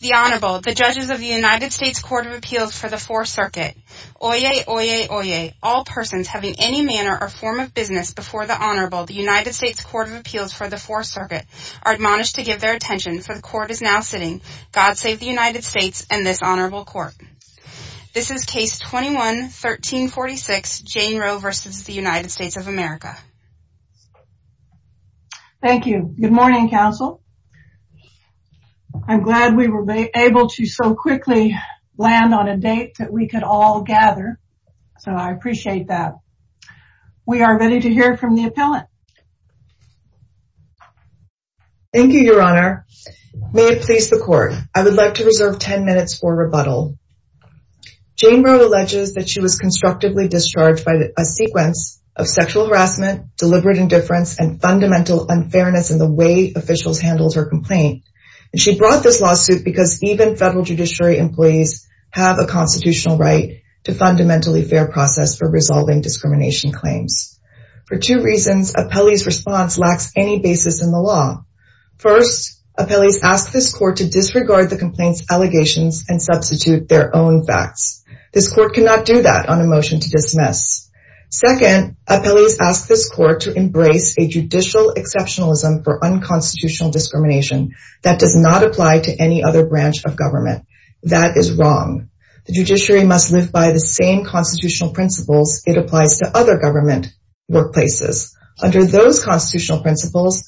The Honorable, the Judges of the United States Court of Appeals for the Fourth Circuit. Oyez, oyez, oyez. All persons having any manner or form of business before the Honorable, the United States Court of Appeals for the Fourth Circuit, are admonished to give their attention, for the Court is now sitting. God save the United States and this Honorable Court. This is Case 21-1346, Jane Roe v. United States of America. Thank you. Good morning, Counsel. I'm glad we were able to so quickly land on a date that we could all gather, so I appreciate that. We are ready to hear from the appellant. Thank you, Your Honor. May it please the Court, I would like to reserve 10 minutes for rebuttal. Jane Roe alleges that she was constructively discharged by a sequence of sexual harassment, deliberate indifference, and fundamental unfairness in the way officials handled her complaint. She brought this lawsuit because even federal judiciary employees have a constitutional right to fundamentally fair process for resolving discrimination claims. For two reasons, appellee's response lacks any basis in the law. First, appellees ask this court to disregard the their own facts. This court cannot do that on a motion to dismiss. Second, appellees ask this court to embrace a judicial exceptionalism for unconstitutional discrimination that does not apply to any other branch of government. That is wrong. The judiciary must live by the same constitutional principles it applies to other government workplaces. Under those constitutional principles,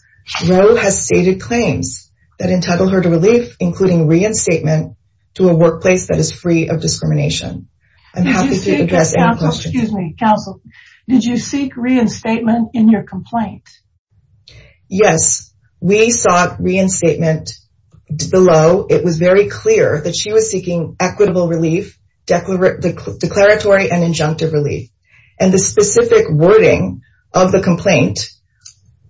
Roe has stated claims that entitle her to relief, including reinstatement to a free of discrimination. I'm happy to address any questions. Excuse me, counsel. Did you seek reinstatement in your complaint? Yes, we sought reinstatement below. It was very clear that she was seeking equitable relief, declaratory and injunctive relief. And the specific wording of the complaint,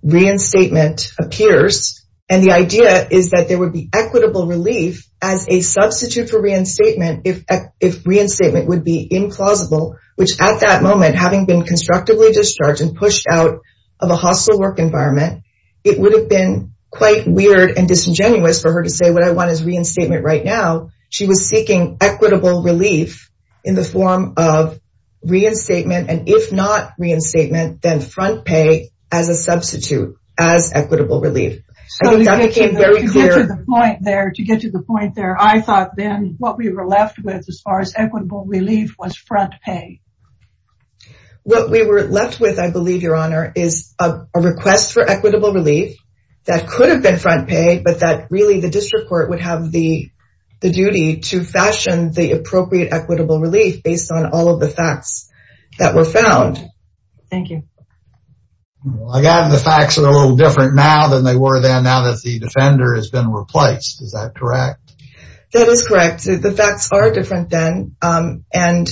reinstatement, appears. And the idea is that there would be equitable relief as a substitute for reinstatement if reinstatement would be implausible, which at that moment, having been constructively discharged and pushed out of a hostile work environment, it would have been quite weird and disingenuous for her to say what I want is reinstatement right now. She was seeking equitable relief in the form of reinstatement and if not reinstatement, then front pay as a substitute. I thought then what we were left with as far as equitable relief was front pay. What we were left with, I believe, Your Honor, is a request for equitable relief that could have been front pay, but that really the district court would have the duty to fashion the appropriate equitable relief based on all of the facts that were found. Thank you. I got the facts are a little different now than they were then now that the defender has been replaced. Is that correct? That is correct. The facts are different then. And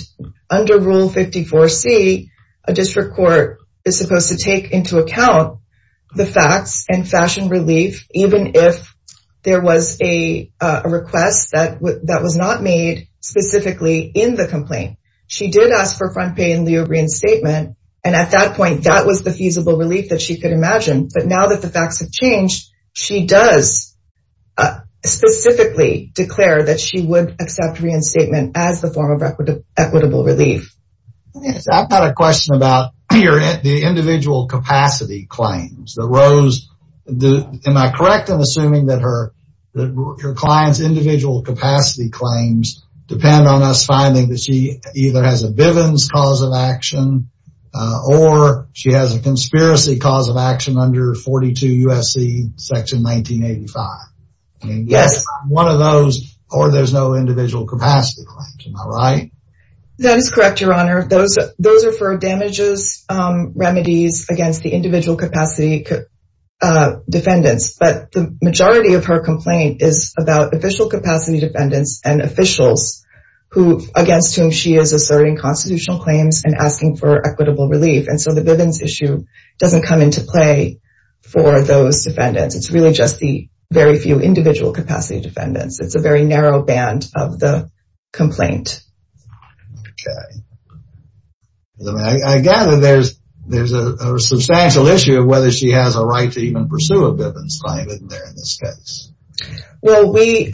under Rule 54C, a district court is supposed to take into account the facts and fashion relief, even if there was a request that was not made specifically in the complaint. She did ask for front pay in the reinstatement. And at that point, that was the feasible relief that she could imagine. But now that the facts have changed, she does specifically declare that she would accept reinstatement as the form of equitable relief. I've got a question about the individual capacity claims. Am I correct in assuming that her client's individual capacity claims depend on us finding that she either has a Bivens cause of action, or she has a conspiracy cause of action under 42 USC Section 1985? Yes. One of those, or there's no individual capacity claims. Am I right? That is correct, Your Honor. Those are for damages, remedies against the individual capacity defendants. But the majority of her complaint is about official capacity defendants and officials against whom she is asserting constitutional claims and asking for equitable relief. And so the Bivens issue doesn't come into play for those defendants. It's really just the very few individual capacity defendants. It's a very narrow band of the complaint. Okay. I gather there's a substantial issue of whether she has a right to even pursue a Bivens claim in this case. Well, we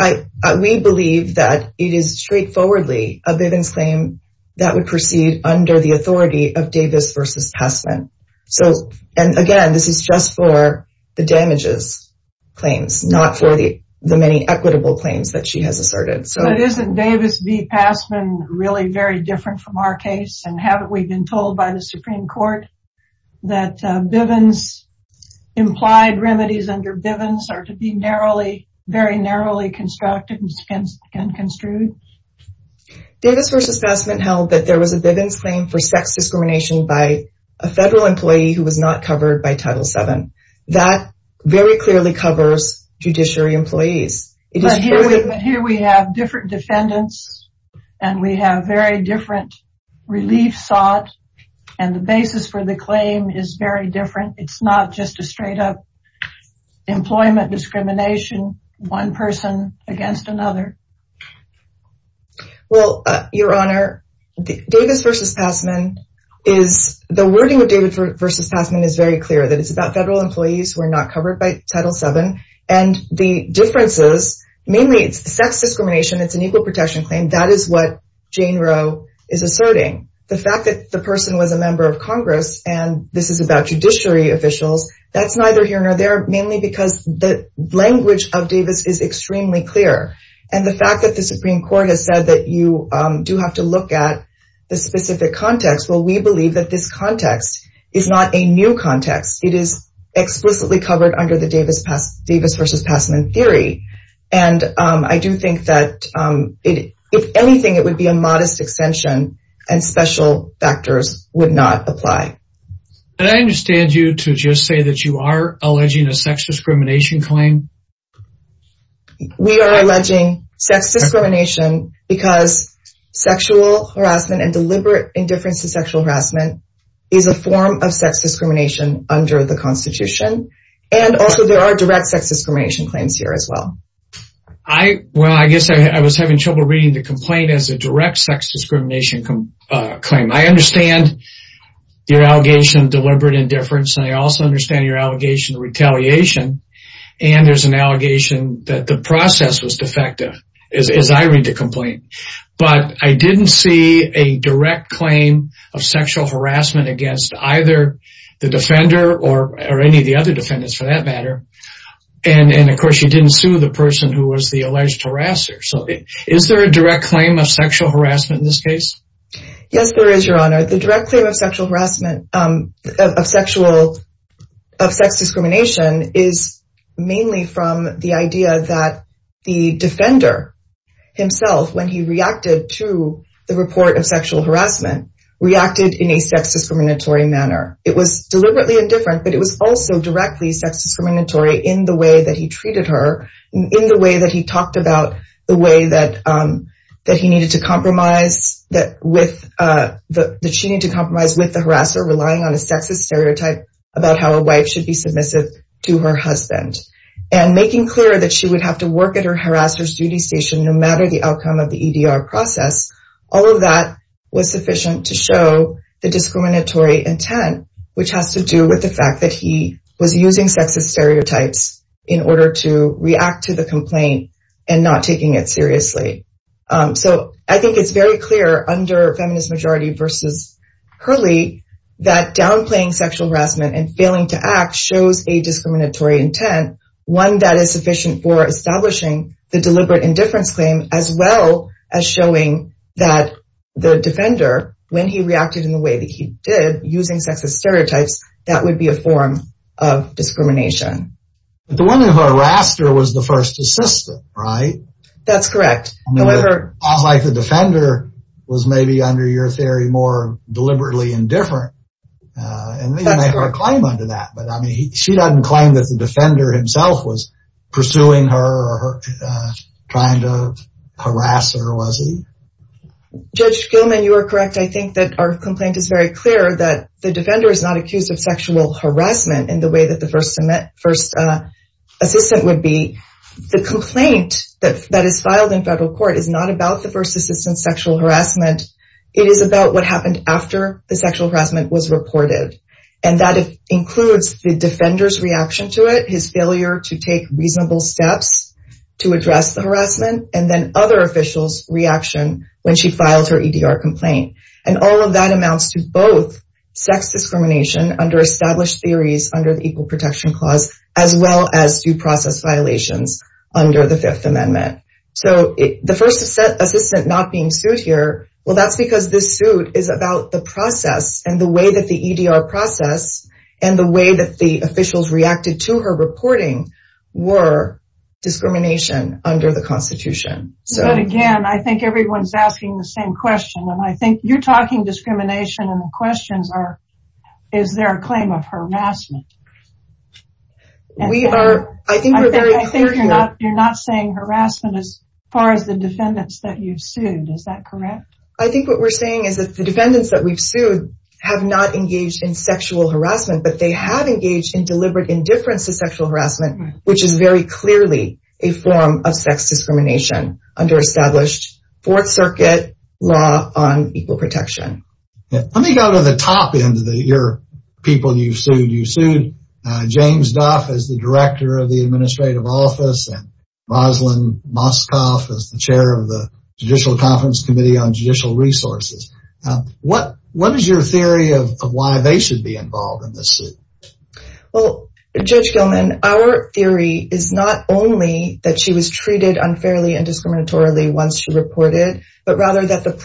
believe that it is straightforwardly a Bivens claim that would proceed under the authority of Davis v. Passman. So, and again, this is just for the damages claims, not for the many equitable claims that she has asserted. So isn't Davis v. Passman really very different from our case? And haven't we been told by the very narrowly constructed and construed? Davis v. Passman held that there was a Bivens claim for sex discrimination by a federal employee who was not covered by Title VII. That very clearly covers judiciary employees. Here we have different defendants and we have very different relief sought. And the basis for the one person against another. Well, Your Honor, Davis v. Passman is, the wording of Davis v. Passman is very clear that it's about federal employees who are not covered by Title VII. And the differences, mainly it's sex discrimination. It's an equal protection claim. That is what Jane Roe is asserting. The fact that the person was a member of Congress and this is about judiciary officials, that's neither here nor there, mainly because the language of Davis is extremely clear. And the fact that the Supreme Court has said that you do have to look at the specific context. Well, we believe that this context is not a new context. It is explicitly covered under the Davis v. Passman theory. And I do think that if anything, it would be a modest extension and special factors would not apply. And I understand you to just say that you are alleging a sex discrimination claim. We are alleging sex discrimination because sexual harassment and deliberate indifference to sexual harassment is a form of sex discrimination under the Constitution. And also there are direct sex discrimination claims here as well. I well, I guess I was having trouble reading the complaint as a direct sex discrimination claim. I understand your allegation of deliberate indifference. And I also understand your allegation of retaliation. And there's an allegation that the process was defective, as I read the complaint. But I didn't see a direct claim of sexual harassment against either the defender or any of the other defendants for that matter. And of course, you didn't sue the person who was the alleged harasser. So is there a direct claim of sexual harassment in this case? Yes, there is, Your Honor, the direct claim of sexual harassment, of sexual, of sex discrimination is mainly from the idea that the defender himself, when he reacted to the report of sexual harassment, reacted in a sex discriminatory manner, it was deliberately indifferent, but it was also directly sex discriminatory in the way that he treated her in the way that he talked about the way that, that he needed to compromise that with the cheating to compromise with the harasser relying on a sexist stereotype about how a wife should be submissive to her husband, and making clear that she would have to work at her harassers duty station, no matter the outcome of the EDR process. All of that was sufficient to show the discriminatory intent, which has to do with the fact that he was using sexist I think it's very clear under feminist majority versus Hurley, that downplaying sexual harassment and failing to act shows a discriminatory intent, one that is sufficient for establishing the deliberate indifference claim, as well as showing that the defender when he reacted in the way that he did using sexist stereotypes, that would be a form of discrimination. The woman who harassed her was the first assistant, right? That's correct. However, like the defender was maybe under your theory, more deliberately indifferent. And they claim under that, but I mean, she doesn't claim that the defender himself was pursuing her or trying to harass her, was he? Judge Gilman, you are correct. I think that our complaint is very clear that the defender is not accused of sexual harassment in the way that the first assistant would be. The complaint that that is filed in federal court is not about the first assistant sexual harassment. It is about what happened after the sexual harassment was reported. And that includes the defenders reaction to it, his failure to take reasonable steps to address the harassment and then other officials reaction when she filed her EDR complaint. And all of that amounts to both sex discrimination under established theories under the Equal Protection Clause, as well as due process violations under the Fifth Amendment. So the first assistant not being sued here, well, that's because this suit is about the process and the way that the EDR process and the way that the officials reacted to her reporting were discrimination under the Constitution. So again, I think everyone's asking the same question. And I think you're talking discrimination and the questions are, is there a claim of harassment? We are, I think, I think you're not, you're not saying harassment as far as the defendants that you've sued. Is that correct? I think what we're saying is that the defendants that we've sued have not engaged in sexual harassment, but they have engaged in deliberate indifference to sexual harassment, which is very clearly a form of Let me go to the top end of your people you've sued. You sued James Duff as the Director of the Administrative Office and Roslyn Moskoff as the Chair of the Judicial Conference Committee on Judicial Resources. What is your theory of why they should be involved in this suit? Well, Judge Gilman, our theory is not only that she was treated unfairly and discriminatorily once she sued, but the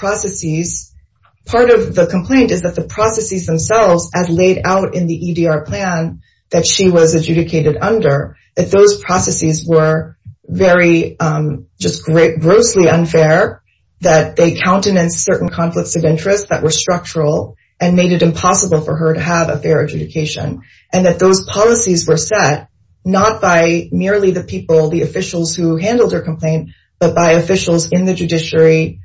point is that the processes themselves as laid out in the EDR plan that she was adjudicated under, that those processes were very, just grossly unfair, that they countenanced certain conflicts of interest that were structural and made it impossible for her to have a fair adjudication. And that those policies were set, not by merely the people, the officials who handled her complaint, but by officials in the judiciary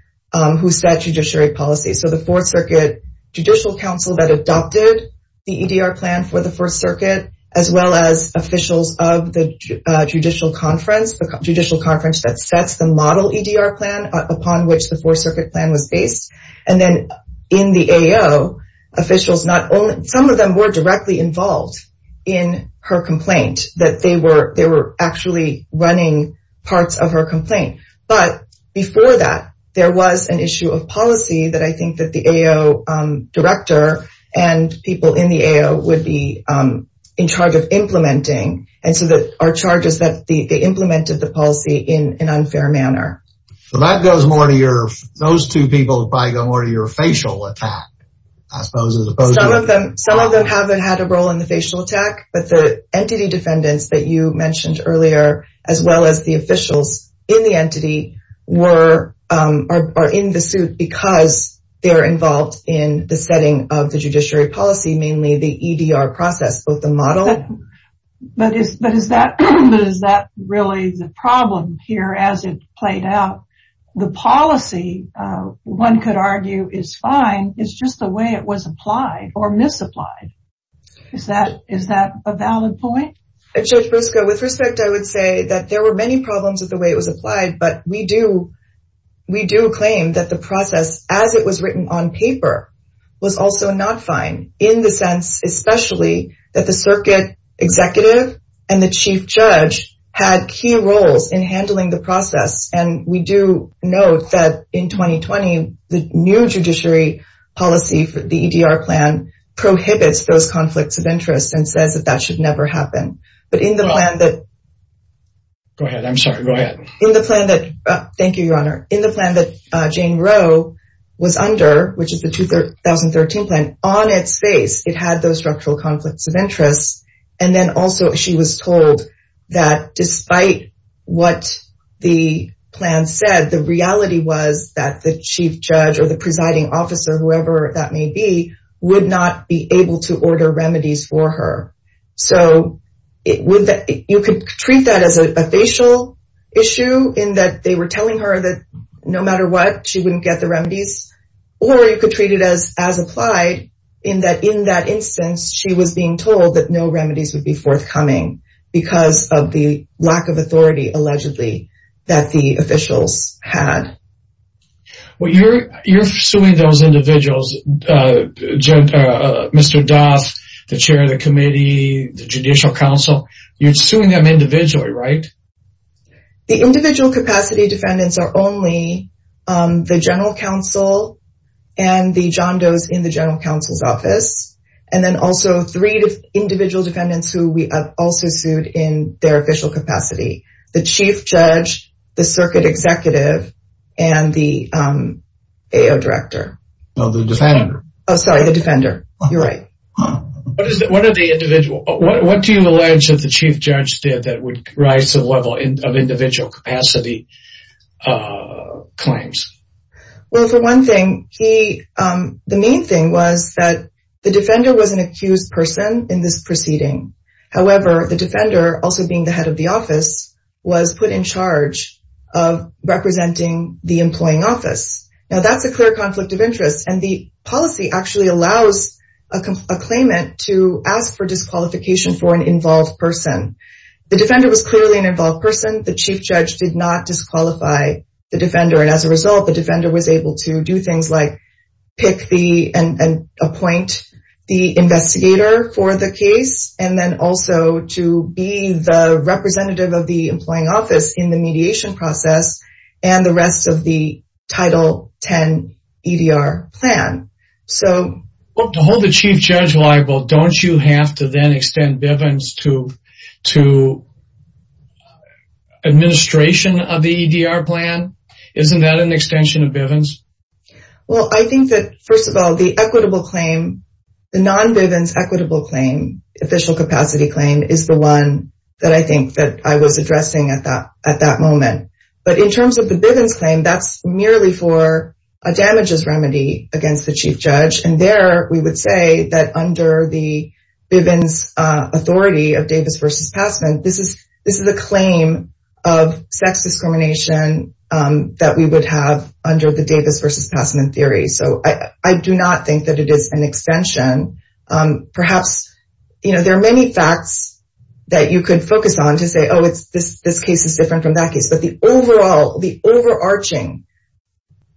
who set judiciary policy. So the Fourth Circuit Judicial Council that adopted the EDR plan for the First Circuit, as well as officials of the Judicial Conference, the Judicial Conference that sets the model EDR plan upon which the Fourth Circuit plan was based. And then in the AO, officials not only, some of them were directly involved in her complaint, that they were actually running parts of her complaint. But before that, there was an issue of policy that I think that the AO director and people in the AO would be in charge of implementing. And so there are charges that they implemented the policy in an unfair manner. So that goes more to your, those two people probably go more to your facial attack, I suppose. Some of them haven't had a role in the facial attack, but the entity defendants that you mentioned earlier, as well as the officials in the entity, were, are in the suit because they're involved in the setting of the judiciary policy, mainly the EDR process, both the model. But is that really the problem here as it played out? The policy, one could argue is fine. It's just the way it was applied or misapplied. Is that a valid point? Judge Brusco, with respect, I would say that there were many problems with the way it was applied. But we do, we do claim that the process as it was written on paper, was also not fine in the sense, especially that the circuit executive and the chief judge had key roles in handling the process. And we do note that in 2020, the new judiciary policy for the EDR plan prohibits those conflicts of interest and says that that should never happen. But in the plan that... Go ahead. I'm sorry. Go ahead. In the plan that, thank you, Your Honor, in the plan that Jane Roe was under, which is the 2013 plan, on its face, it had those structural conflicts of interest. And then also she was told that despite what the plan said, the reality was that the chief judge would not be able to order remedies for her. So you could treat that as a facial issue in that they were telling her that no matter what, she wouldn't get the remedies. Or you could treat it as applied in that in that instance, she was being told that no remedies would be forthcoming because of the lack of authority, allegedly, that the officials had. Well, you're suing those individuals, Mr. Doss, the chair of the committee, the judicial counsel, you're suing them individually, right? The individual capacity defendants are only the general counsel and the John Does in the general counsel's office. And then also three individual defendants who we have also sued in their official capacity, the chief judge, the circuit executive, and the AO director. No, the defender. Oh, sorry, the defender. You're right. What are the individual... What do you allege that the chief judge did that would rise the level of individual capacity claims? Well, for one thing, the main thing was that the defender was an accused person in this proceeding. However, the defender, also being the head of the office, was put in charge of representing the employing office. Now, that's a clear conflict of interest. And the policy actually allows a claimant to ask for disqualification for an involved person. The defender was clearly an involved person, the chief judge did not disqualify the defender. And as a result, the defender was able to do things like pick the and appoint the investigator for the case, and then also to be the representative of the employing office in the mediation process, and the rest of the Title 10 EDR plan. So to hold the chief judge liable, don't you have to then extend Bivens to administration of the EDR plan? Isn't that an extension of Bivens? Well, I think that first of all, the equitable claim, the non-Bivens equitable claim, official capacity claim is the one that I think that I was And there, we would say that under the Bivens authority of Davis v. Passman, this is the claim of sex discrimination that we would have under the Davis v. Passman theory. So I do not think that it is an extension. Perhaps, you know, there are many facts that you could focus on to say, oh, this case is different from that case. But the overall, the overarching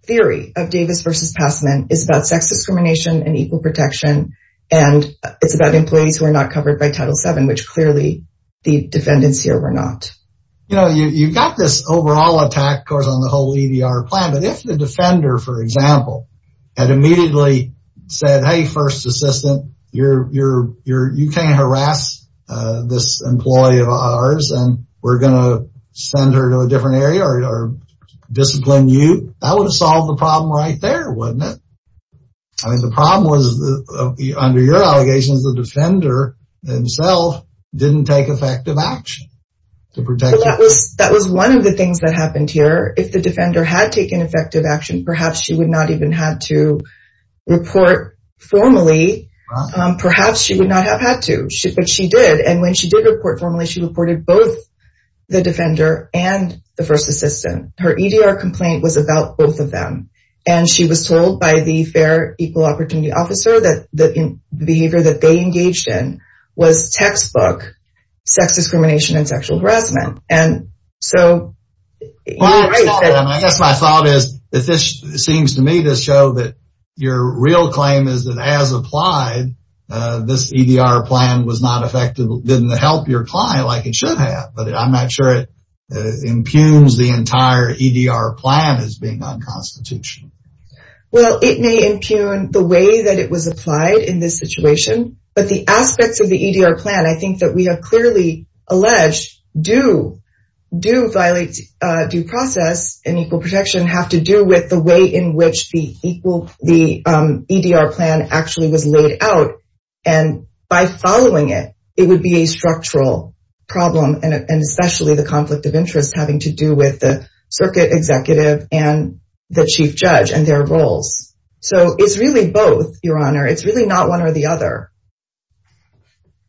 theory of Davis v. Passman is about sex discrimination and equal protection. And it's about employees who are not covered by Title VII, which clearly the defendants here were not. You know, you've got this overall attack, of course, on the whole EDR plan. But if the defender, for example, had immediately said, hey, first send her to a different area or discipline you, that would have solved the problem right there, wouldn't it? I mean, the problem was, under your allegations, the defender himself didn't take effective action to protect you. That was one of the things that happened here. If the defender had taken effective action, perhaps she would not even have to report formally. Perhaps she would not have had to, but she did. And when she did report formally, she reported both the defender and the first assistant. Her EDR complaint was about both of them. And she was told by the Fair Equal Opportunity Officer that the behavior that they engaged in was textbook sex discrimination and sexual harassment. And so... And I guess my thought is, it seems to me to show that your real claim is that as applied, this EDR plan was not effective, didn't help your client like it should have. But I'm not sure it impugns the entire EDR plan as being unconstitutional. Well, it may impugn the way that it was applied in this situation, but the aspects of the EDR plan, I think that we have clearly alleged, do violate due process and equal protection have to do with the way in which the EDR plan actually was laid out. And by following it, it would be a structural problem, and especially the conflict of interest having to do with the circuit executive and the chief judge. And their roles. So it's really both, Your Honor. It's really not one or the other.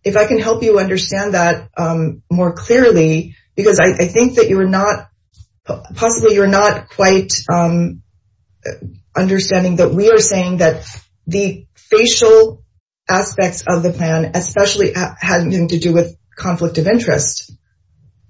If I can help you understand that more clearly, because I think that you're not... Possibly you're not quite understanding that we are saying that the facial aspects of the plan, especially having to do with conflict of interest,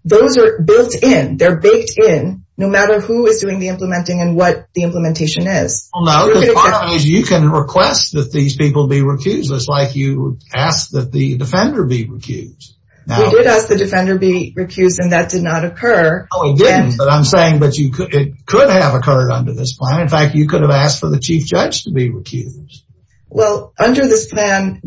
those are built in. They're baked in, no matter who is doing the implementing and what the implementation is. Well, no, because part of it is you can request that these people be recused. It's like you asked that the defender be recused. We did ask the defender be recused, and that did not occur. Oh, it didn't, but I'm saying that it could have occurred under this plan. In fact, you could have asked for the chief judge to be recused. Well, under this plan,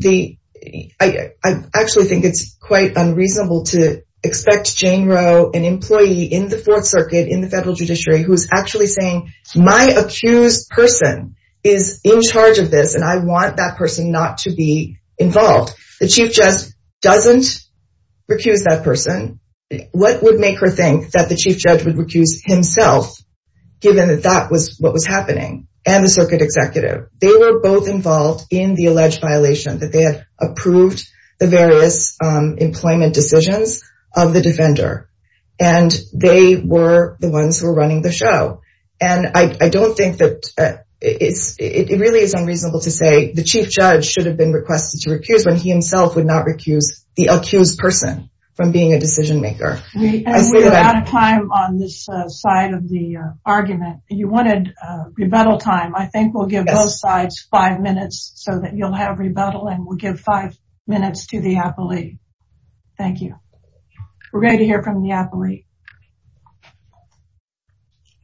I actually think it's quite unreasonable to expect Jane Roe, an employee in the Fourth Circuit, in the federal judiciary, who's actually saying, my accused person is in charge of this, and I want that person not to be involved. The chief judge doesn't recuse that person. What would make her think that the chief judge would recuse himself, given that that was what was happening and the circuit executive? They were both involved in the alleged violation, that they had approved the various employment decisions of the defender, and they were the ones who were running the show. And I don't think that it really is unreasonable to say the chief judge should have been requested to recuse, when he himself would not recuse the accused person from being a decision maker. We are out of time on this side of the argument. You wanted rebuttal time. I think we'll give both sides five minutes so that you'll have rebuttal, and we'll give five minutes to the appellee. Thank you. We're ready to hear from the appellee.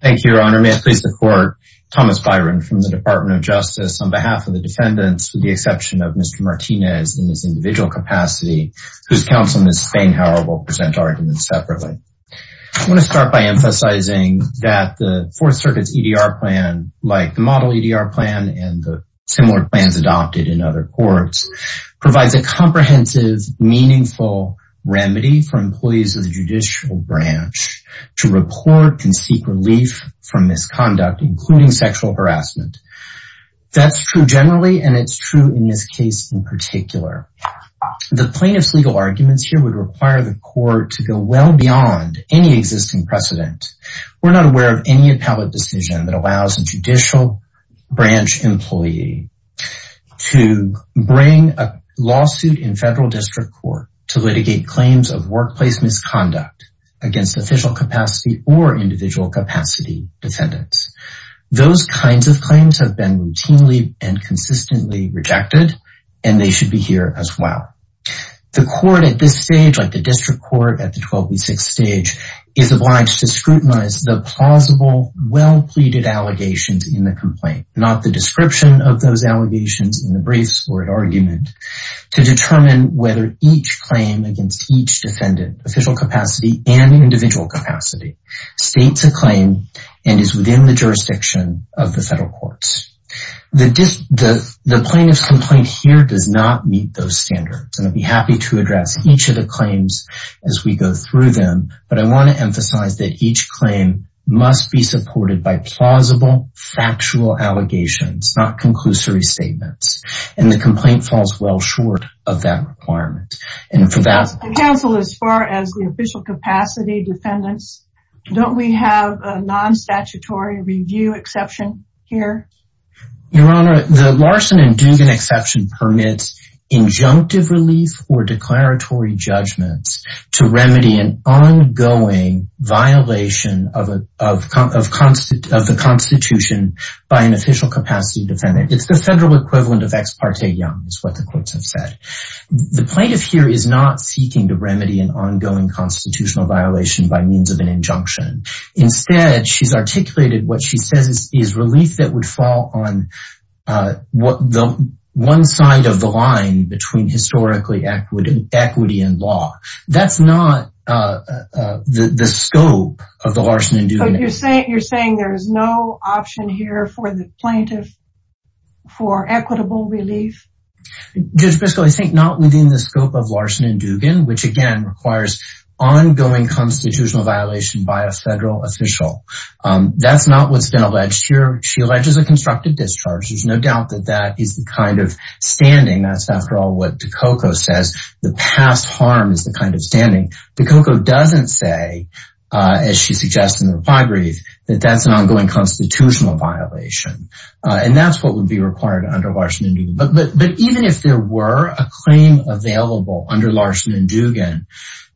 Thank you, Your Honor. May I please support Thomas Byron from the Department of Justice on behalf of the defendants, with the exception of Mr. Martinez in his individual capacity, whose counsel, Ms. Fainhower, will present arguments separately. I want to start by emphasizing that the Fourth Circuit's EDR plan, like the model EDR plan and the similar plans adopted in other courts, provides a comprehensive, meaningful remedy for employees of the judicial branch to report and seek relief from misconduct, including sexual harassment. That's true generally, and it's true in this case in particular. The plaintiff's legal arguments here would require the court to go well beyond any existing precedent. We're not aware of any appellate decision that allows a judicial branch employee to bring a lawsuit in federal district court to litigate claims of workplace misconduct against official capacity or individual capacity defendants. Those kinds of claims have been routinely and consistently rejected, and they should be here as well. The court at this stage, like the district court at the 12 v. 6 stage, is obliged to scrutinize the plausible, well-pleaded allegations in the complaint, not the description of those allegations in the briefs or an argument, to determine whether each claim against each defendant, official capacity and individual capacity, states a claim and is within the jurisdiction of the federal courts. The plaintiff's complaint here does not meet those standards, and I'd be happy to address each of the claims as we go through them, but I want to emphasize that each claim must be supported by plausible, factual allegations, not conclusory statements, and the complaint falls well short of that requirement. Counsel, as far as the official capacity defendants, don't we have a non-statutory review exception here? Your Honor, the Larson and Dugan exception permits injunctive relief or declaratory judgments to remedy an ongoing violation of the Constitution by an official capacity defendant. It's the federal equivalent of ex parte young, is what the courts have said. The plaintiff here is not seeking to remedy an ongoing constitutional violation by means of an injunction. Instead, she's articulated what she says is relief that would fall on the one side of the line between historically equity and law. That's not the scope of the Larson and Dugan exception. You're saying there is no option here for the plaintiff for equitable relief? Judge Briscoe, I think not within the scope of Larson and Dugan, which again requires ongoing constitutional violation by a federal official. That's not what's been alleged here. She alleges a constructive discharge. There's no doubt that that is the kind of standing, that's after all what DeCoco says, the past harm is the kind of standing. DeCoco doesn't say, as she suggests in the reply brief, that that's an ongoing constitutional violation, and that's what would be required under Larson and Dugan. But even if there were a claim available under Larson and Dugan,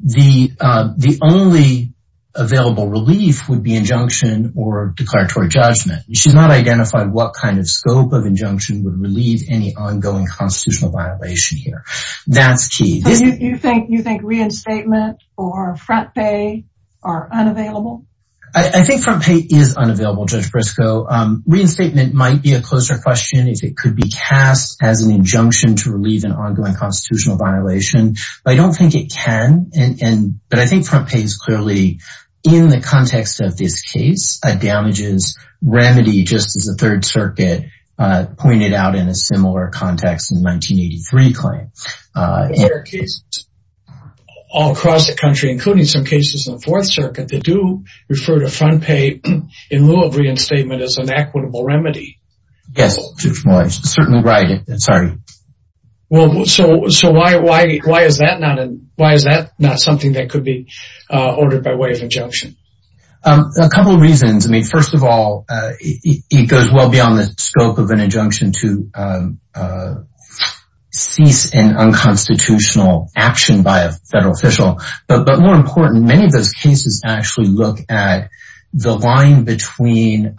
the only available relief would be injunction or declaratory judgment. She's not identified what kind of scope of injunction would relieve any ongoing constitutional violation here. That's key. Do you think reinstatement or front pay are unavailable? I think front pay is unavailable, Judge Briscoe. Reinstatement might be a closer question if it could be cast as an injunction to relieve an ongoing constitutional violation. I don't think it can, but I think front pay is clearly, in the context of this case, a damages remedy, just as the Third Circuit pointed out in a similar context in the 1983 claim. There are cases all across the country, including some cases in the Fourth Circuit, that do refer to front pay in lieu of reinstatement as an equitable remedy. Yes, Judge Moyes, certainly right. Sorry. Well, so why is that not something that could be ordered by way of injunction? A couple of reasons. I mean, first of all, it goes well beyond the scope of an injunction to cease an unconstitutional action by a federal official. But more important, many of those cases actually look at the line between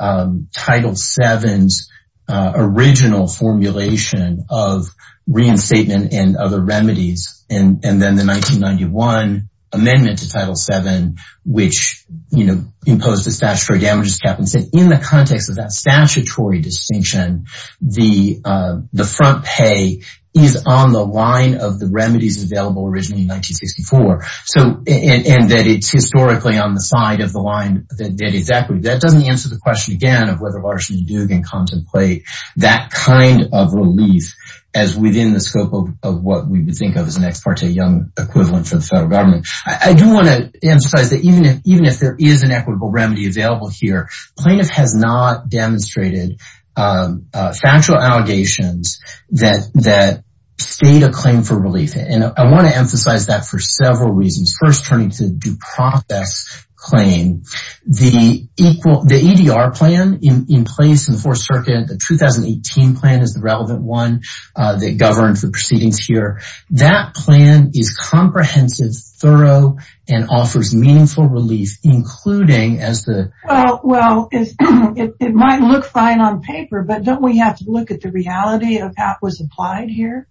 Title VII's original formulation of reinstatement and other remedies, and then the 1991 amendment to Title VII, which imposed a statutory damages cap and said, in the context of that statutory distinction, the front pay is on the line of the remedies available originally in 1964. So, and that it's historically on the side of the line, that doesn't answer the question again of whether Larson and Dugan contemplate that kind of relief as within the scope of what we would think of as an ex parte Young equivalent for the federal government. I do want to emphasize that even if there is an equitable remedy available here, plaintiff has not demonstrated factual allegations that state a claim for relief. And I want to emphasize that for several reasons. First, turning to the due process claim, the EDR plan in place in the Fourth Circuit, the 2018 plan is the relevant one that governed the proceedings here. That plan is comprehensive, thorough, and offers meaningful relief, including as the... Well, well, it might look fine on paper, but don't we have to look at the reality of how it was applied here?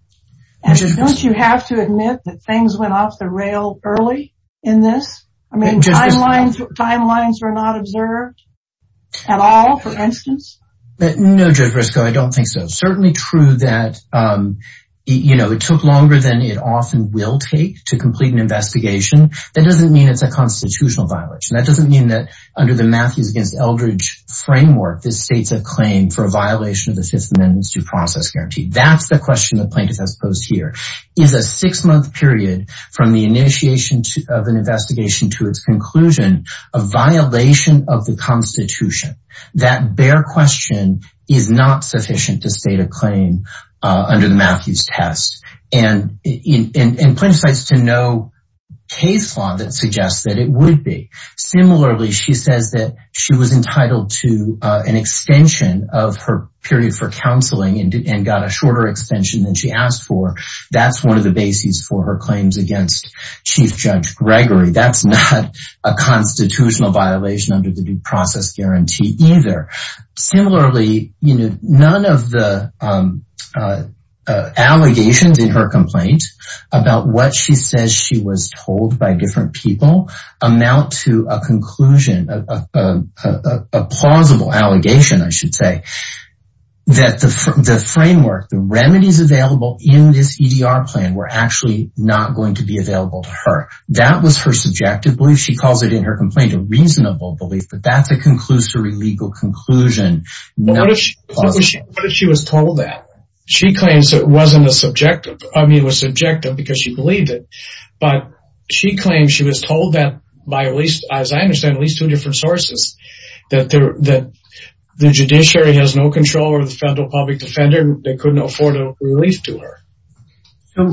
And don't you have to admit that things went off the rail early in this? I mean, timelines were not observed at all, for instance? No, Judge Briscoe, I don't think so. It's certainly true that, you know, it took longer than it often will take to complete an investigation. That doesn't mean it's a constitutional violation. That doesn't mean that under the Matthews against Eldridge framework, the states have claimed for a violation of the Fifth Amendment due process guarantee. That's the question the plaintiff has posed here. Is a six month period from the initiation of an investigation to its conclusion a violation of the Constitution? That bare question is not sufficient to state a claim under the Matthews test and in plain sights to no case law that suggests that it would be. Similarly, she says that she was entitled to an extension of her period for counseling and got a shorter extension than she asked for. That's one of the bases for her claims against Chief Judge Gregory. That's not a constitutional violation under the due process guarantee either. Similarly, you know, none of the allegations in her complaint about what she says she was told by different people amount to a conclusion, a plausible allegation, I should say, that the framework, the remedies available in this EDR plan were actually not going to be available to her. That was her subjective belief. She calls it in her complaint a reasonable belief, but that's a conclusory legal conclusion. What if she was told that? She claims it wasn't a subjective, I mean, it was subjective because she believed it, but she claims she was told that by at least, as I understand, at least two different sources, that the judiciary has no control over the federal public defender. They couldn't afford a relief to her.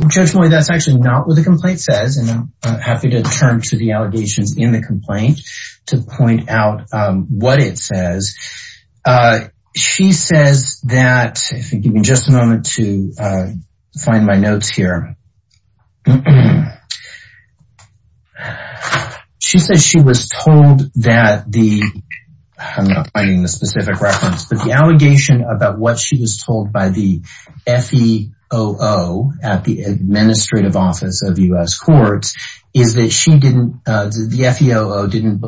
Judge Moy, that's actually not what the complaint says, and I'm happy to turn to the allegations in the complaint to point out what it says. She says that, if you give me just a moment to find my notes here. She says she was told that the, I'm not finding the specific reference, but the allegation about what she was told by the FEOO at the Administrative Office of U.S. Courts is that she didn't, the FEOO didn't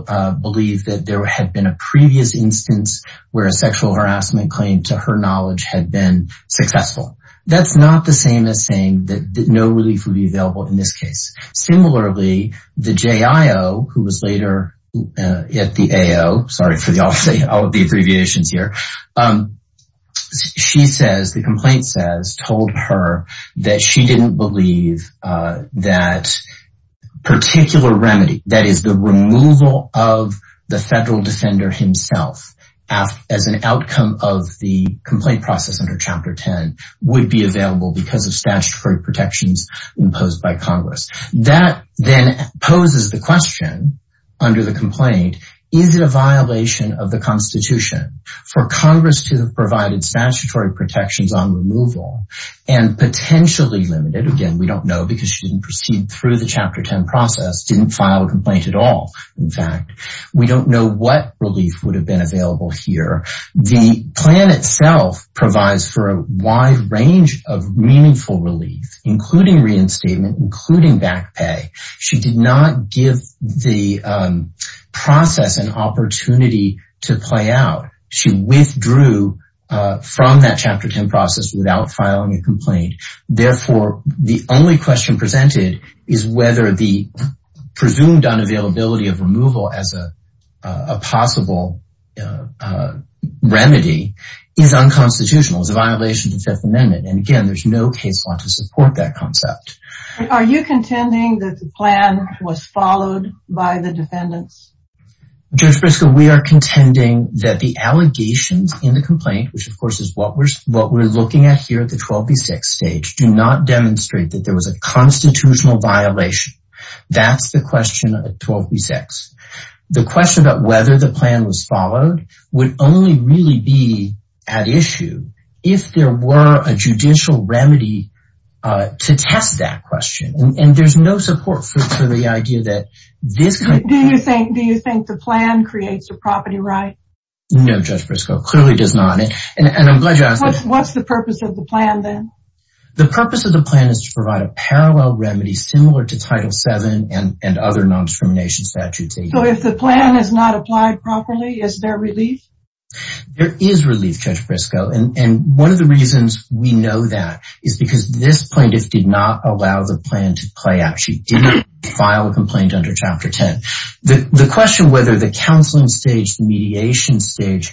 believe that there had been a previous instance where a sexual harassment claim, to her knowledge, had been successful. That's not the same as saying that no relief would be available in this case. Similarly, the JIO, who was later at the AO, sorry for all of the abbreviations here, she says, the complaint says, told her that she didn't believe that particular remedy, that is the removal of the federal defender himself, as an outcome of the complaint process under Chapter 10, would be available because of statutory protections imposed by Congress. That then poses the question under the complaint, is it a violation of the Constitution for Congress to have provided statutory protections on removal and potentially limited? Again, we don't know because she didn't proceed through the Chapter 10 process, didn't file a complaint at all. In fact, we don't know what relief would have been available here. The plan itself provides for a wide range of meaningful relief, including reinstatement, including back pay. She did not give the process an opportunity to play out. She withdrew from that Chapter 10 process without filing a complaint. Therefore, the only question presented is whether the presumed unavailability of removal as a possible remedy is unconstitutional, is a violation of the Fifth Amendment. And again, there's no case law to support that concept. Are you contending that the plan was followed by the defendants? Judge Briscoe, we are contending that the allegations in the complaint, which, of course, is what we're looking at here at the 12 v. 6 stage, do not demonstrate that there was a constitutional violation. That's the question of 12 v. 6. The question about whether the plan was followed would only really be at issue if there were a judicial remedy to test that question. And there's no support for the idea that this... Do you think the plan creates a property right? No, Judge Briscoe, clearly does not. And I'm glad you asked that. What's the purpose of the plan then? The purpose of the plan is to provide a parallel remedy similar to Title VII and other non-discrimination statutes. So if the plan is not applied properly, is there relief? There is relief, Judge Briscoe. And one of the reasons we know that is because this plaintiff did not allow the plan to play out. She didn't file a complaint under Chapter 10. The question whether the counseling stage, the mediation stage,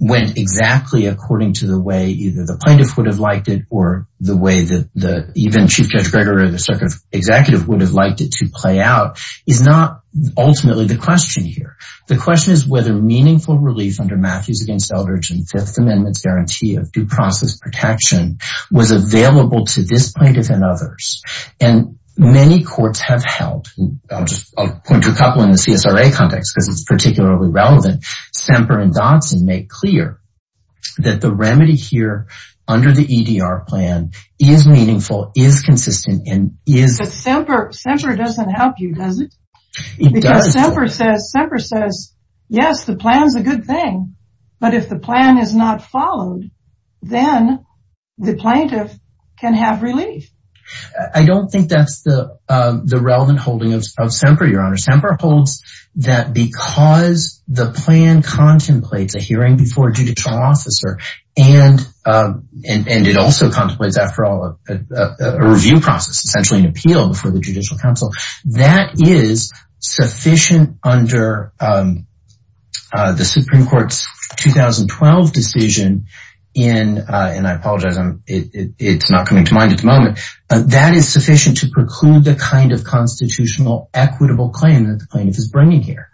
went exactly according to the way either the plaintiff would have liked it or the way that even Chief Judge Greger or the circuit executive would have liked it to play out is not ultimately the question here. The question is whether meaningful relief under Matthews v. Eldridge and Fifth Amendment's guarantee of due process protection was available to this plaintiff and others. And many courts have held. I'll just point to a couple in the CSRA context because it's particularly relevant. Semper and Dodson make clear that the remedy here under the EDR plan is meaningful, is consistent, and is... But Semper doesn't help you, does it? It does. Because Semper says, yes, the plan is a good thing. But if the plan is not followed, then the plaintiff can have relief. I don't think that's the relevant holding of Semper, Your Honor. Semper holds that because the plan contemplates a hearing before a judicial officer, and it also contemplates, after all, a review process, essentially an appeal before the Judicial Council, that is sufficient under the Supreme Court's 2012 decision in, and I apologize, it's not coming to mind at the moment. That is sufficient to preclude the kind of constitutional equitable claim that the plaintiff is bringing here.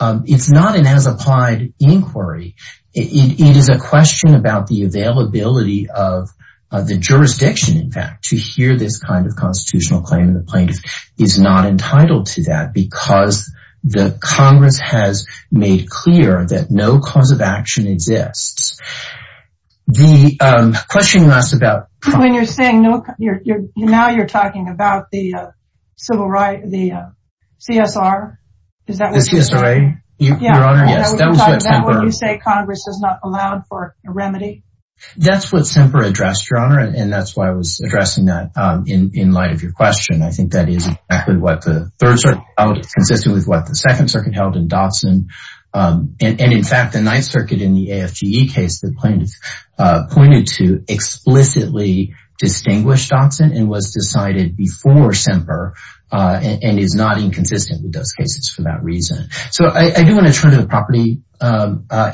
It's not an as-applied inquiry. It is a question about the availability of the jurisdiction, in fact, to hear this kind of constitutional claim. And the plaintiff is not entitled to that because the Congress has made clear that no cause of action exists. The question you asked about... When you're saying, now you're talking about the civil right, the CSR, is that what you're talking about? The CSRA, Your Honor, yes, that was what Semper... Is that what you say Congress has not allowed for a remedy? That's what Semper addressed, Your Honor, and that's why I was addressing that in light of your question. I think that is exactly what the Third Circuit held, consistent with what the Second Circuit held in Dotson. And in fact, the Ninth Circuit in the AFGE case, the plaintiff pointed to explicitly distinguished Dotson and was decided before Semper and is not inconsistent with those cases for that reason. So I do want to turn to the property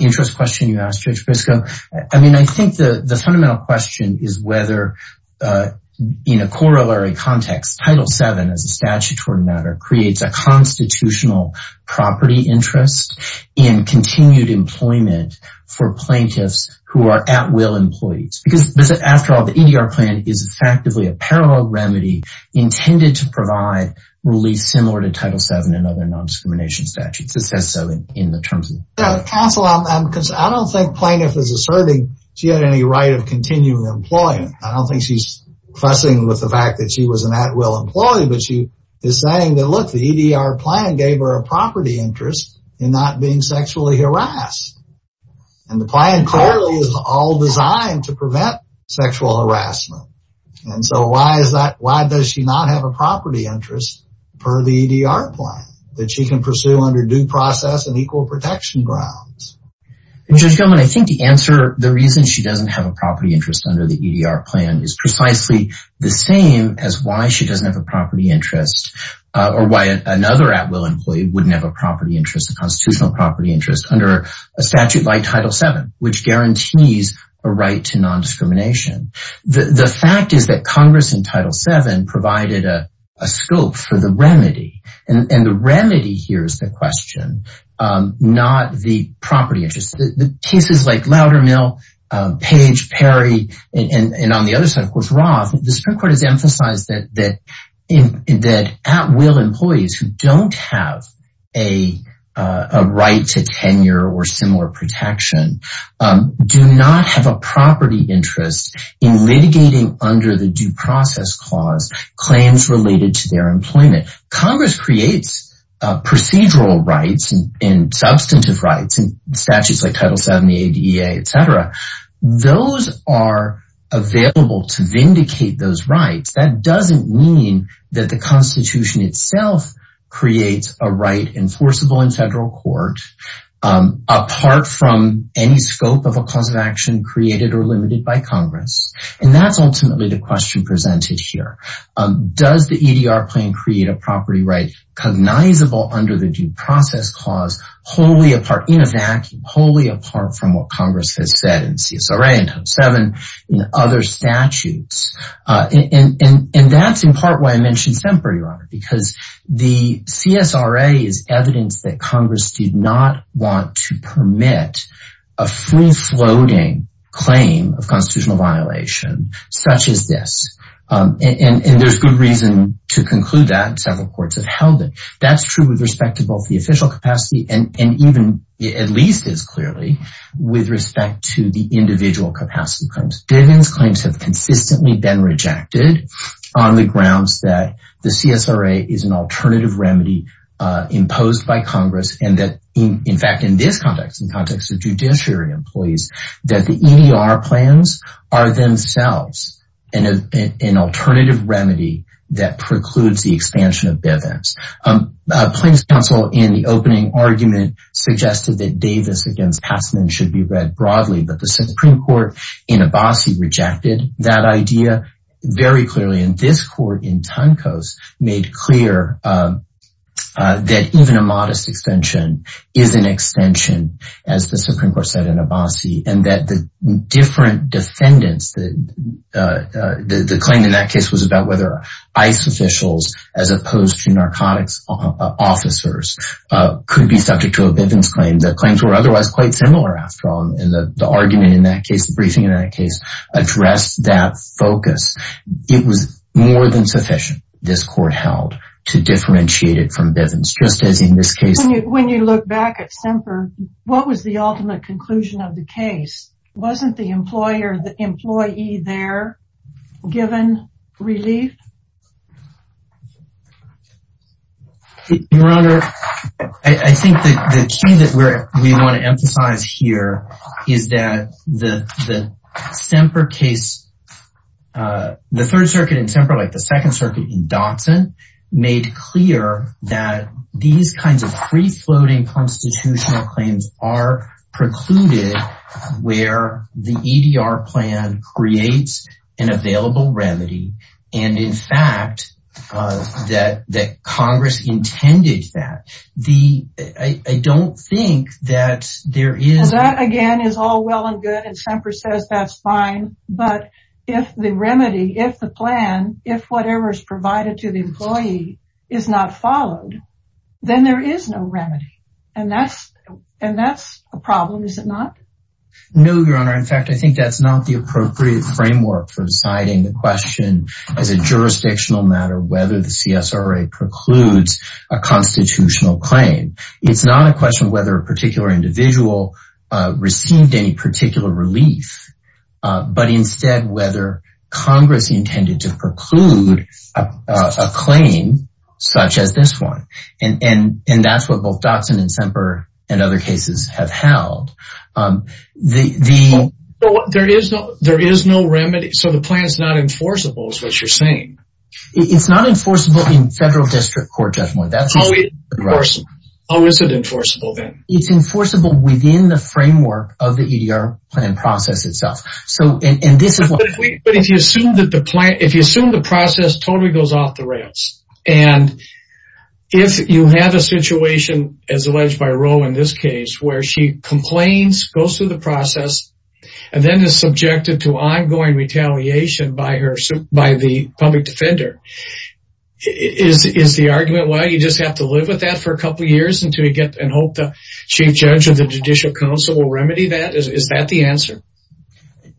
interest question you asked, Judge Briscoe. I mean, I think the fundamental question is whether, in a corollary context, Title VII as a statutory matter creates a constitutional property interest in continued employment for plaintiffs who are at-will employees. Because after all, the EDR plan is effectively a parallel remedy intended to provide relief similar to Title VII and other non-discrimination statutes. It says so in the terms of... Counsel, I don't think plaintiff is asserting she had any right of continuing employment. I don't think she's fussing with the fact that she was an at-will employee, but she is saying that, look, the EDR plan gave her a property interest in not being sexually harassed. And the plan clearly is all designed to prevent sexual harassment. And so why is that? Why does she not have a property interest per the EDR plan that she can pursue under due process and equal protection grounds? Judge Gilman, I think the answer, the reason she doesn't have a property interest under the EDR plan is precisely the same as why she doesn't have a property interest or why another at-will employee wouldn't have a property interest, a constitutional property interest under a statute like Title VII, which guarantees a right to non-discrimination. The fact is that Congress in Title VII provided a scope for the remedy. And the remedy here is the question, not the property interest. The cases like Loudermill, Page, Perry, and on the other side, of course, Roth, the Supreme Court has emphasized that at-will employees who don't have a right to tenure or similar protection do not have a property interest in litigating under the Due Process Clause claims related to their employment. Congress creates procedural rights and substantive rights and statutes like Title VII, the ADA, etc. Those are available to vindicate those rights. That doesn't mean that the Constitution itself creates a right enforceable in federal court, apart from any scope of a cause of action created or limited by Congress. And that's ultimately the question presented here. Does the EDR plan create a property right cognizable under the Due Process Clause wholly apart, in a vacuum, wholly apart from what Congress has said in CSRA and Title VII and other statutes? And that's in part why I mentioned temporary, because the CSRA is evidence that Congress did not want to permit a full floating claim of constitutional violation such as this. And there's good reason to conclude that several courts have held it. That's true with respect to both the official capacity and even, at least as clearly, with respect to the individual capacity claims. Diven's claims have consistently been rejected on the grounds that the CSRA is an alternative remedy imposed by Congress and that, in fact, in this context, in context of judiciary employees, that the EDR plans are themselves an alternative remedy that precludes the expansion of Bivens. A plaintiff's counsel in the opening argument suggested that Davis against Passman should be read broadly. But the Supreme Court in Abbasi rejected that idea very clearly. And this court in Tuncos made clear that even a modest extension is an extension, as the Supreme Court said in Abbasi, and that the different defendants, the claim in that case was about whether ICE officials, as opposed to narcotics officers, could be subject to a Bivens claim. The claims were otherwise quite similar, after all, and the argument in that case, the briefing in that case, addressed that focus. It was more than sufficient, this court held, to differentiate it from Bivens, just as in this case. When you look back at Semper, what was the ultimate conclusion of the case? Wasn't the employer, the employee there given relief? Your Honor, I think the key that we want to emphasize here is that the Semper case, the Third Circuit in Semper, like the Second Circuit in Dotson, made clear that these kinds of free-floating constitutional claims are precluded where the EDR plan creates an available remedy. And in fact, that Congress intended that. I don't think that there is... I mean, the Senate in Semper says that's fine, but if the remedy, if the plan, if whatever is provided to the employee is not followed, then there is no remedy. And that's a problem, is it not? No, Your Honor. In fact, I think that's not the appropriate framework for deciding the question as a jurisdictional matter, whether the CSRA precludes a constitutional claim. It's not a question of whether a particular individual received any particular relief, but instead whether Congress intended to preclude a claim such as this one. And that's what both Dotson and Semper and other cases have held. There is no remedy. So the plan is not enforceable, is what you're saying. It's not enforceable in federal district court, Judge Moore. How is it enforceable, then? It's enforceable within the framework of the EDR plan process itself. So, and this is what... But if you assume that the plan, if you assume the process totally goes off the rails. And if you have a situation, as alleged by Roe in this case, where she complains, goes through the process and then is subjected to ongoing retaliation by the public defender, is the argument why you just have to live with that for a couple of years and hope the chief judge or the judicial counsel will remedy that? Is that the answer?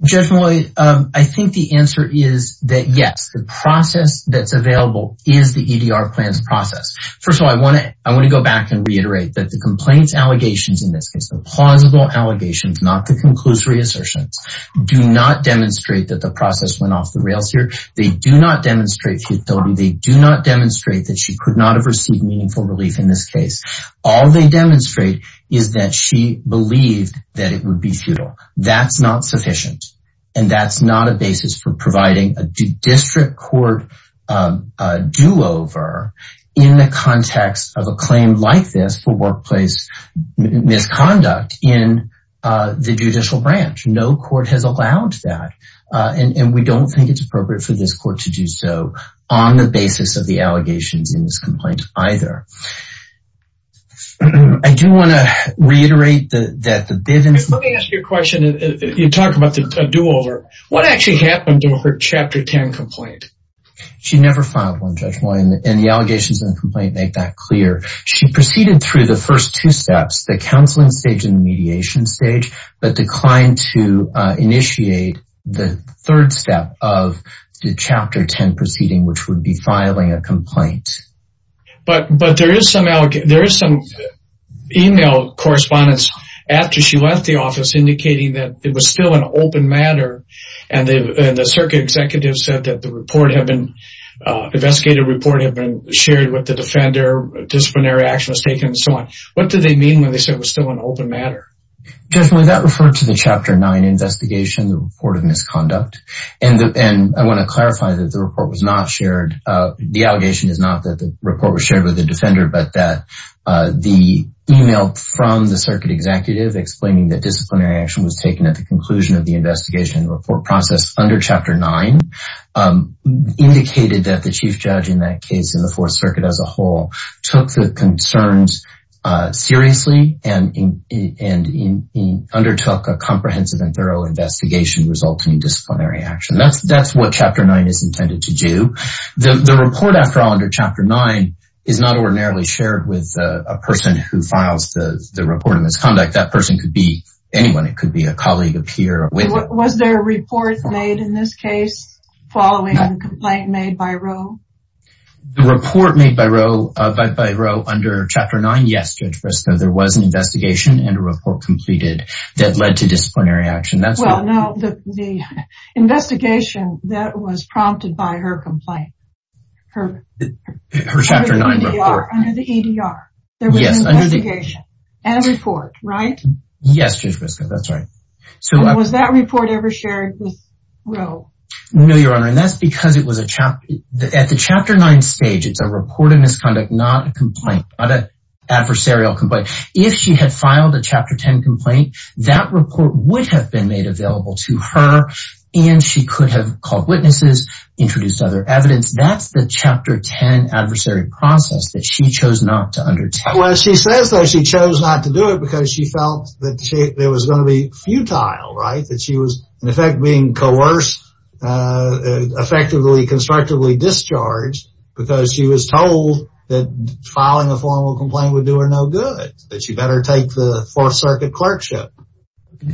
Judge Moore, I think the answer is that yes, the process that's available is the EDR plan's process. First of all, I want to go back and reiterate that the complaints allegations in this case, the plausible allegations, not the conclusory assertions, do not demonstrate that the process went off the rails here. They do not demonstrate futility. They do not demonstrate that she could not have received meaningful relief in this case. All they demonstrate is that she believed that it would be futile. That's not sufficient. And that's not a basis for providing a district court do-over in the context of a claim like this for workplace misconduct in the judicial branch. No court has allowed that. And we don't think it's appropriate for this court to do so on the basis of the allegations in this complaint either. I do want to reiterate that the bid... Let me ask you a question. You talked about the do-over. What actually happened to her Chapter 10 complaint? She never filed one, Judge Moy, and the allegations in the complaint make that clear. She proceeded through the first two steps, the counseling stage and mediation stage, but declined to initiate the third step of the Chapter 10 proceeding, which would be filing a complaint. But there is some email correspondence after she left the office indicating that it was still an open matter. And the circuit executive said that the investigative report had been shared with the defender, disciplinary action was taken, and so on. What did they mean when they said it was still an open matter? Judge Moy, that referred to the Chapter 9 investigation, the report of misconduct. And I want to clarify that the report was not shared. The allegation is not that the report was shared with the defender, but that the email from the circuit executive explaining that disciplinary action was taken at the conclusion of the investigation report process under Chapter 9 indicated that the chief judge in that case in the Fourth Circuit as a whole took the concerns seriously and undertook a comprehensive and thorough investigation resulting in disciplinary action. That's what Chapter 9 is intended to do. The report, after all, under Chapter 9 is not ordinarily shared with a person who files the report of misconduct. That person could be anyone. It could be a colleague, a peer. Was there a report made in this case? Following a complaint made by Roe? The report made by Roe under Chapter 9? Yes, Judge Briscoe. There was an investigation and a report completed that led to disciplinary action. Well, no, the investigation that was prompted by her complaint, her Chapter 9 report, under the EDR, there was an investigation and a report, right? Yes, Judge Briscoe, that's right. So was that report ever shared with Roe? No, Your Honor, and that's because it was a chapter at the Chapter 9 stage. It's a report of misconduct, not a complaint, not an adversarial complaint. If she had filed a Chapter 10 complaint, that report would have been made available to her and she could have called witnesses, introduced other evidence. That's the Chapter 10 adversary process that she chose not to undertake. Well, she says that she chose not to do it because she felt that it was going to be futile, right? That she was, in effect, being coerced, effectively, constructively discharged because she was told that filing a formal complaint would do her no good, that she better take the Fourth Circuit clerkship.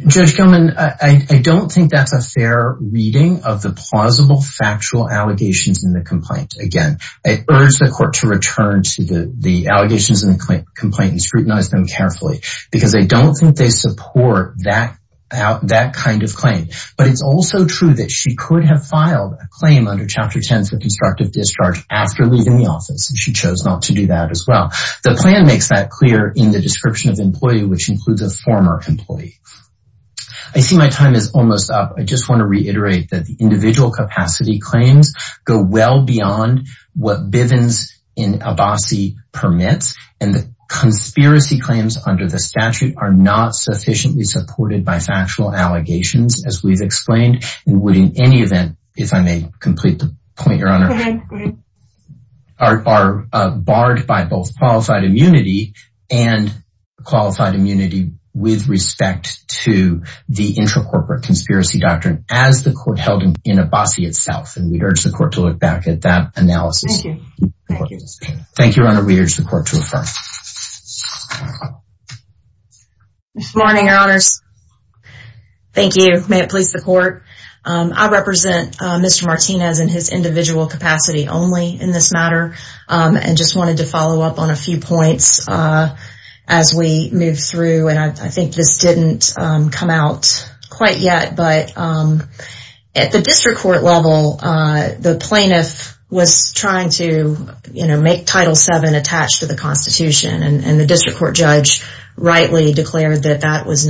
Judge Gilman, I don't think that's a fair reading of the plausible factual allegations in the complaint. Again, I urge the court to return to the allegations in the complaint and scrutinize them carefully because I don't think they support that kind of claim. But it's also true that she could have filed a claim under Chapter 10 for constructive discharge after leaving the office, and she chose not to do that as well. The plan makes that clear in the description of employee, which includes a former employee. I see my time is almost up. I just want to reiterate that the individual capacity claims go well beyond what Bivens in Abbasi permits, and the conspiracy claims under the statute are not sufficiently supported by factual allegations, as we've explained, and would in any event, if I may complete the point, Your Honor, are barred by both qualified immunity and qualified immunity with respect to the intracorporate conspiracy doctrine as the court held in Abbasi itself. And we urge the court to look back at that analysis. Thank you, Your Honor. We urge the court to affirm. Good morning, Your Honors. Thank you. May it please the court. I represent Mr. Martinez in his individual capacity only in this matter, and just wanted to follow up on a few points as we move through. And I think this didn't come out quite yet, but at the district court level, the plaintiff was trying to make Title VII attached to the Constitution. And the district court judge rightly declared that that was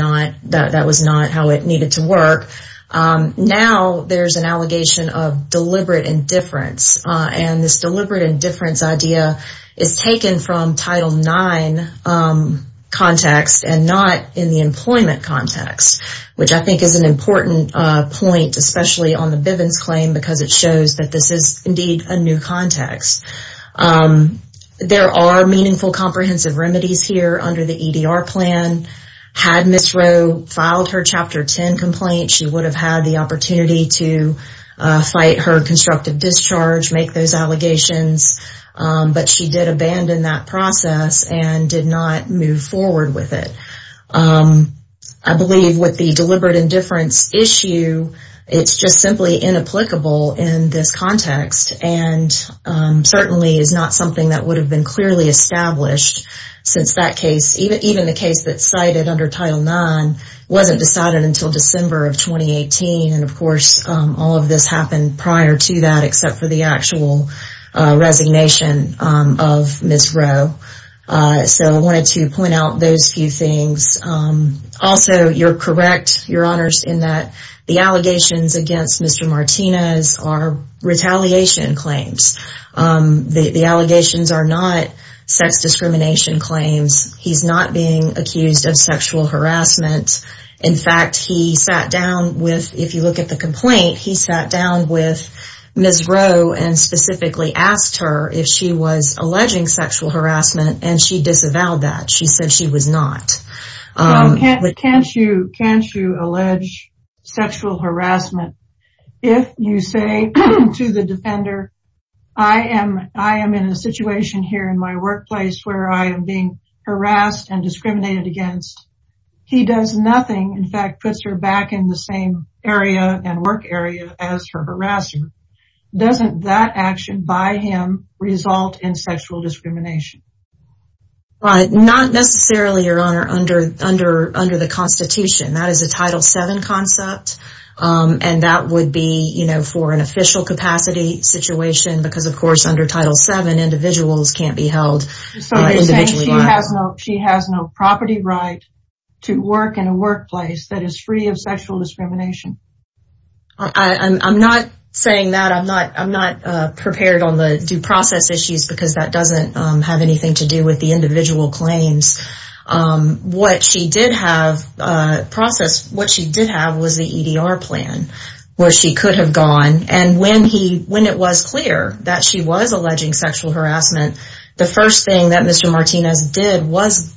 not how it needed to work. Now there's an allegation of deliberate indifference, and this deliberate indifference idea is taken from Title IX context and not in the employment context, which I think is an important point, especially on the Bivens claim, because it shows that this is indeed a new context. There are meaningful comprehensive remedies here under the EDR plan. Had Ms. Rowe filed her Chapter 10 complaint, she would have had the opportunity to fight her constructive discharge, make those allegations. But she did abandon that process and did not move forward with it. I believe with the deliberate indifference issue, it's just simply inapplicable in this context and certainly is not something that would have been clearly established since that case, even the case that's cited under Title IX, wasn't decided until December of 2018. And of course, all of this happened prior to that, except for the actual resignation of Ms. Rowe. So I wanted to point out those few things. Also, you're correct, Your Honors, in that the allegations against Mr. Martinez are retaliation claims. The allegations are not sex discrimination claims. He's not being accused of sexual harassment. In fact, he sat down with, if you look at the complaint, he sat down with Ms. Rowe and specifically asked her if she was alleging sexual harassment and she disavowed that. She said she was not. Can't you allege sexual harassment if you say to the defender, I am in a situation here in my workplace where I am being harassed and discriminated against? He does nothing, in fact, puts her back in the same area and work area as her harasser. Doesn't that action by him result in sexual discrimination? Not necessarily, Your Honor, under the Constitution. That is a Title VII concept and that would be, you know, for an official capacity situation because, of course, under Title VII, individuals can't be held individually liable. So you're saying she has no property right to work in a workplace that is free of sexual discrimination? I'm not saying that. I'm not prepared on the due process issues because that doesn't have anything to do with the individual claims. What she did have processed, what she did have was the EDR plan where she could have gone. And when it was clear that she was alleging sexual harassment, the first thing that Mr. Martinez did was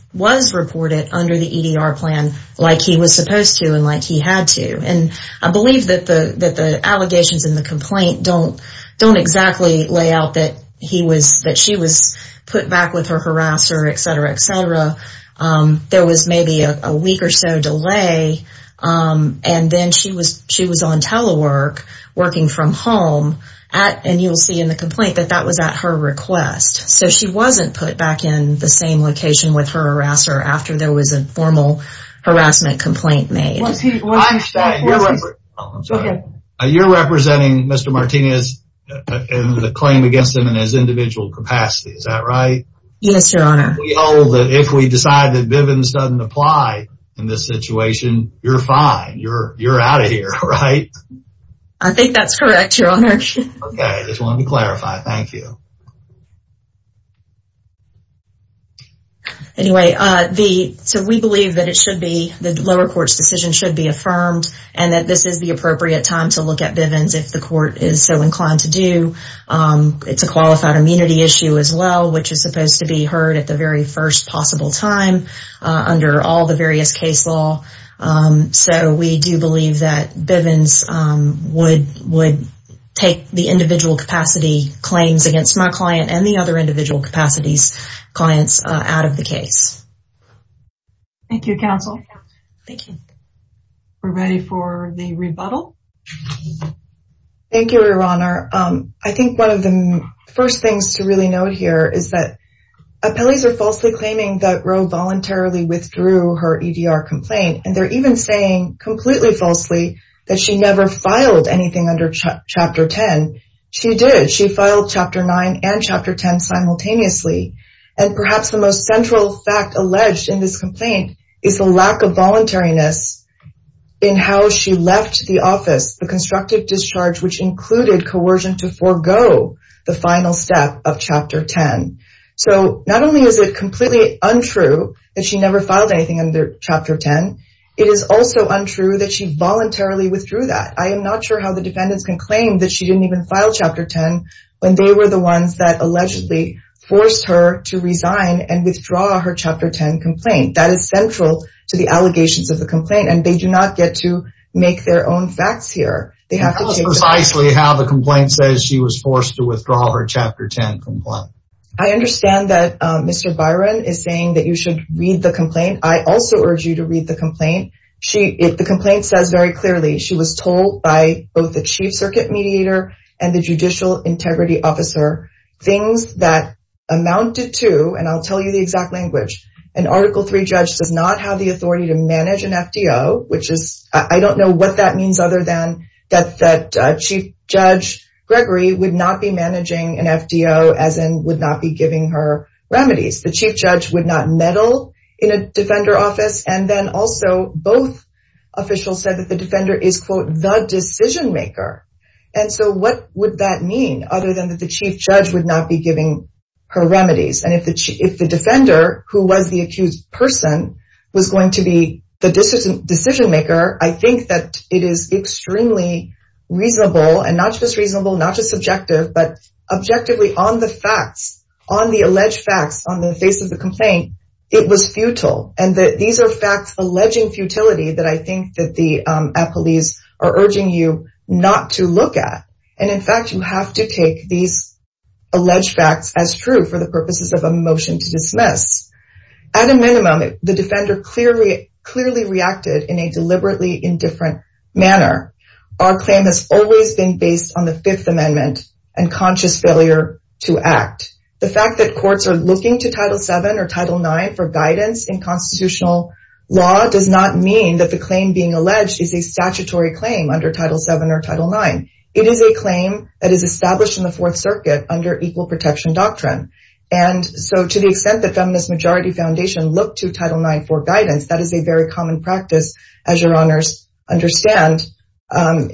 report it under the EDR plan like he was supposed to and like he had to. And I believe that the allegations in the complaint don't exactly lay out that he was, that she was put back with her harasser, et cetera, et cetera. There was maybe a week or so delay and then she was on telework working from home at, and you'll see in the complaint that that was at her request. So she wasn't put back in the same location with her harasser after there was a formal harassment complaint made. I'm sorry, you're representing Mr. Martinez in the claim against him in his individual capacity, is that right? Yes, your honor. We hold that if we decide that Bivens doesn't apply in this situation, you're fine, you're out of here, right? I think that's correct, your honor. Okay, just wanted to clarify, thank you. Anyway, so we believe that it should be, the lower court's decision should be affirmed and that this is the appropriate time to look at Bivens if the court is so inclined to do. It's a qualified immunity issue as well, which is supposed to be heard at the very first possible time under all the various case law. So we do believe that Bivens would take the individual capacity claims against my client and the other individual capacities clients out of the case. Thank you, counsel. Thank you. We're ready for the rebuttal. Thank you, your honor. I think one of the first things to really note here is that appellees are falsely claiming that Roe voluntarily withdrew her EDR complaint. And they're even saying completely falsely that she never filed anything under Chapter 10. She did, she filed Chapter 9 and Chapter 10 simultaneously. And perhaps the most central fact alleged in this complaint is the lack of voluntariness in how she left the office. The constructive discharge, which included coercion to forego the final step of Chapter 10. So not only is it completely untrue that she never filed anything under Chapter 10, it is also untrue that she voluntarily withdrew that. I am not sure how the defendants can claim that she didn't even file Chapter 10 when they were the ones that allegedly forced her to resign and withdraw her Chapter 10 complaint. That is central to the allegations of the complaint. And they do not get to make their own facts here. Tell us precisely how the complaint says she was forced to withdraw her Chapter 10 complaint. I understand that Mr. Byron is saying that you should read the complaint. I also urge you to read the complaint. The complaint says very clearly she was told by both the Chief Circuit Mediator and the Judicial Integrity Officer things that amounted to, and I'll tell you the exact language, an Article 3 judge does not have the authority to manage an FDO, which is, I don't know what that means other than that Chief Judge Gregory would not be managing an FDO, as in would not be giving her remedies. The Chief Judge would not meddle in a defender office. And then also both officials said that the defender is, quote, the decision maker. And so what would that mean other than that the Chief Judge would not be giving her remedies? And if the defender, who was the accused person, was going to be the decision maker, I think that it is extremely reasonable, and not just reasonable, not just subjective, but objectively on the facts, on the alleged facts, on the face of the complaint, it was futile. And that these are facts alleging futility that I think that the appellees are urging you not to look at. And in fact, you have to take these alleged facts as true for the purposes of a motion to dismiss. At a minimum, the defender clearly reacted in a deliberately indifferent manner. Our claim has always been based on the Fifth Amendment and conscious failure to act. The fact that courts are looking to Title VII or Title IX for guidance in constitutional law does not mean that the claim being alleged is a statutory claim under Title VII or Title IX. It is a claim that is established in the Fourth Circuit under equal protection doctrine. And so to the extent that Feminist Majority Foundation look to Title IX for guidance, that is a very common practice, as your honors understand,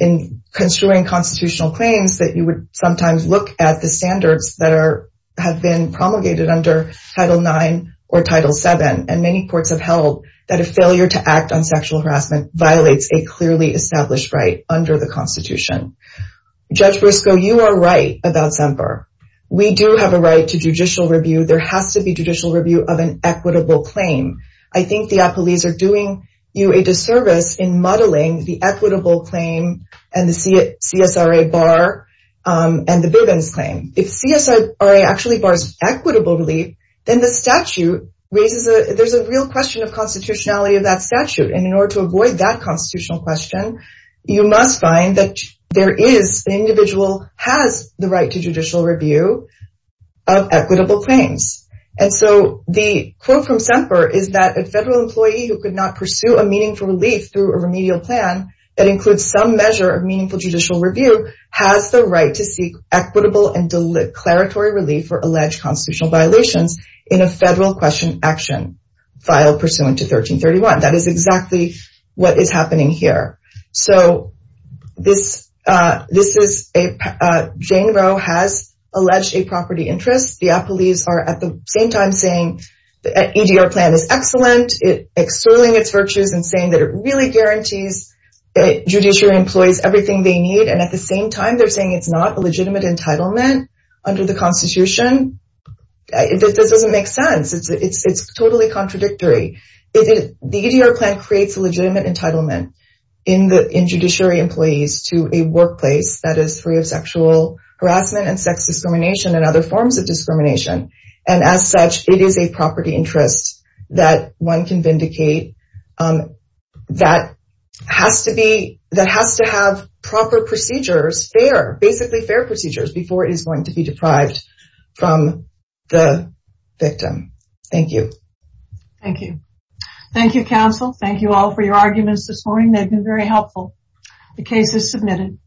in construing constitutional claims, that you would sometimes look at the standards that have been promulgated under Title IX or Title VII. And many courts have held that a failure to act on sexual harassment violates a clearly established right under the Constitution. Judge Briscoe, you are right about Semper. We do have a right to judicial review. There has to be judicial review of an equitable claim. I think the appellees are doing you a disservice in muddling the equitable claim and the CSRA bar and the Bivens claim. If CSRA actually bars equitable relief, then there is a real question of constitutionality of that statute. And in order to avoid that constitutional question, you must find that an individual has the right to judicial review of equitable claims. And so the quote from Semper is that a federal employee who could not pursue a meaningful relief through a remedial plan that includes some measure of meaningful judicial review, has the right to seek equitable and declaratory relief for alleged constitutional violations in a federal question action filed pursuant to 1331. That is exactly what is happening here. Jane Rowe has alleged a property interest. The appellees are at the same time saying the EDR plan is excellent, extolling its virtues and saying that it really guarantees judiciary employees everything they need. And at the same time, they're saying it's not a legitimate entitlement under the Constitution. That doesn't make sense. It's totally contradictory. The EDR plan creates a legitimate entitlement in judiciary employees to a workplace that is free of sexual harassment and sex discrimination and other forms of discrimination. And as such, it is a property interest that one can vindicate that has to have proper procedures, basically fair procedures, before it is going to be deprived from the victim. Thank you. Thank you. Thank you, counsel. Thank you all for your arguments this morning. They've been very helpful. The case is submitted.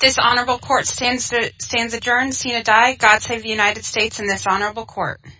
This honorable court stands adjourned. Tina Dye, God Save the United States and this honorable court.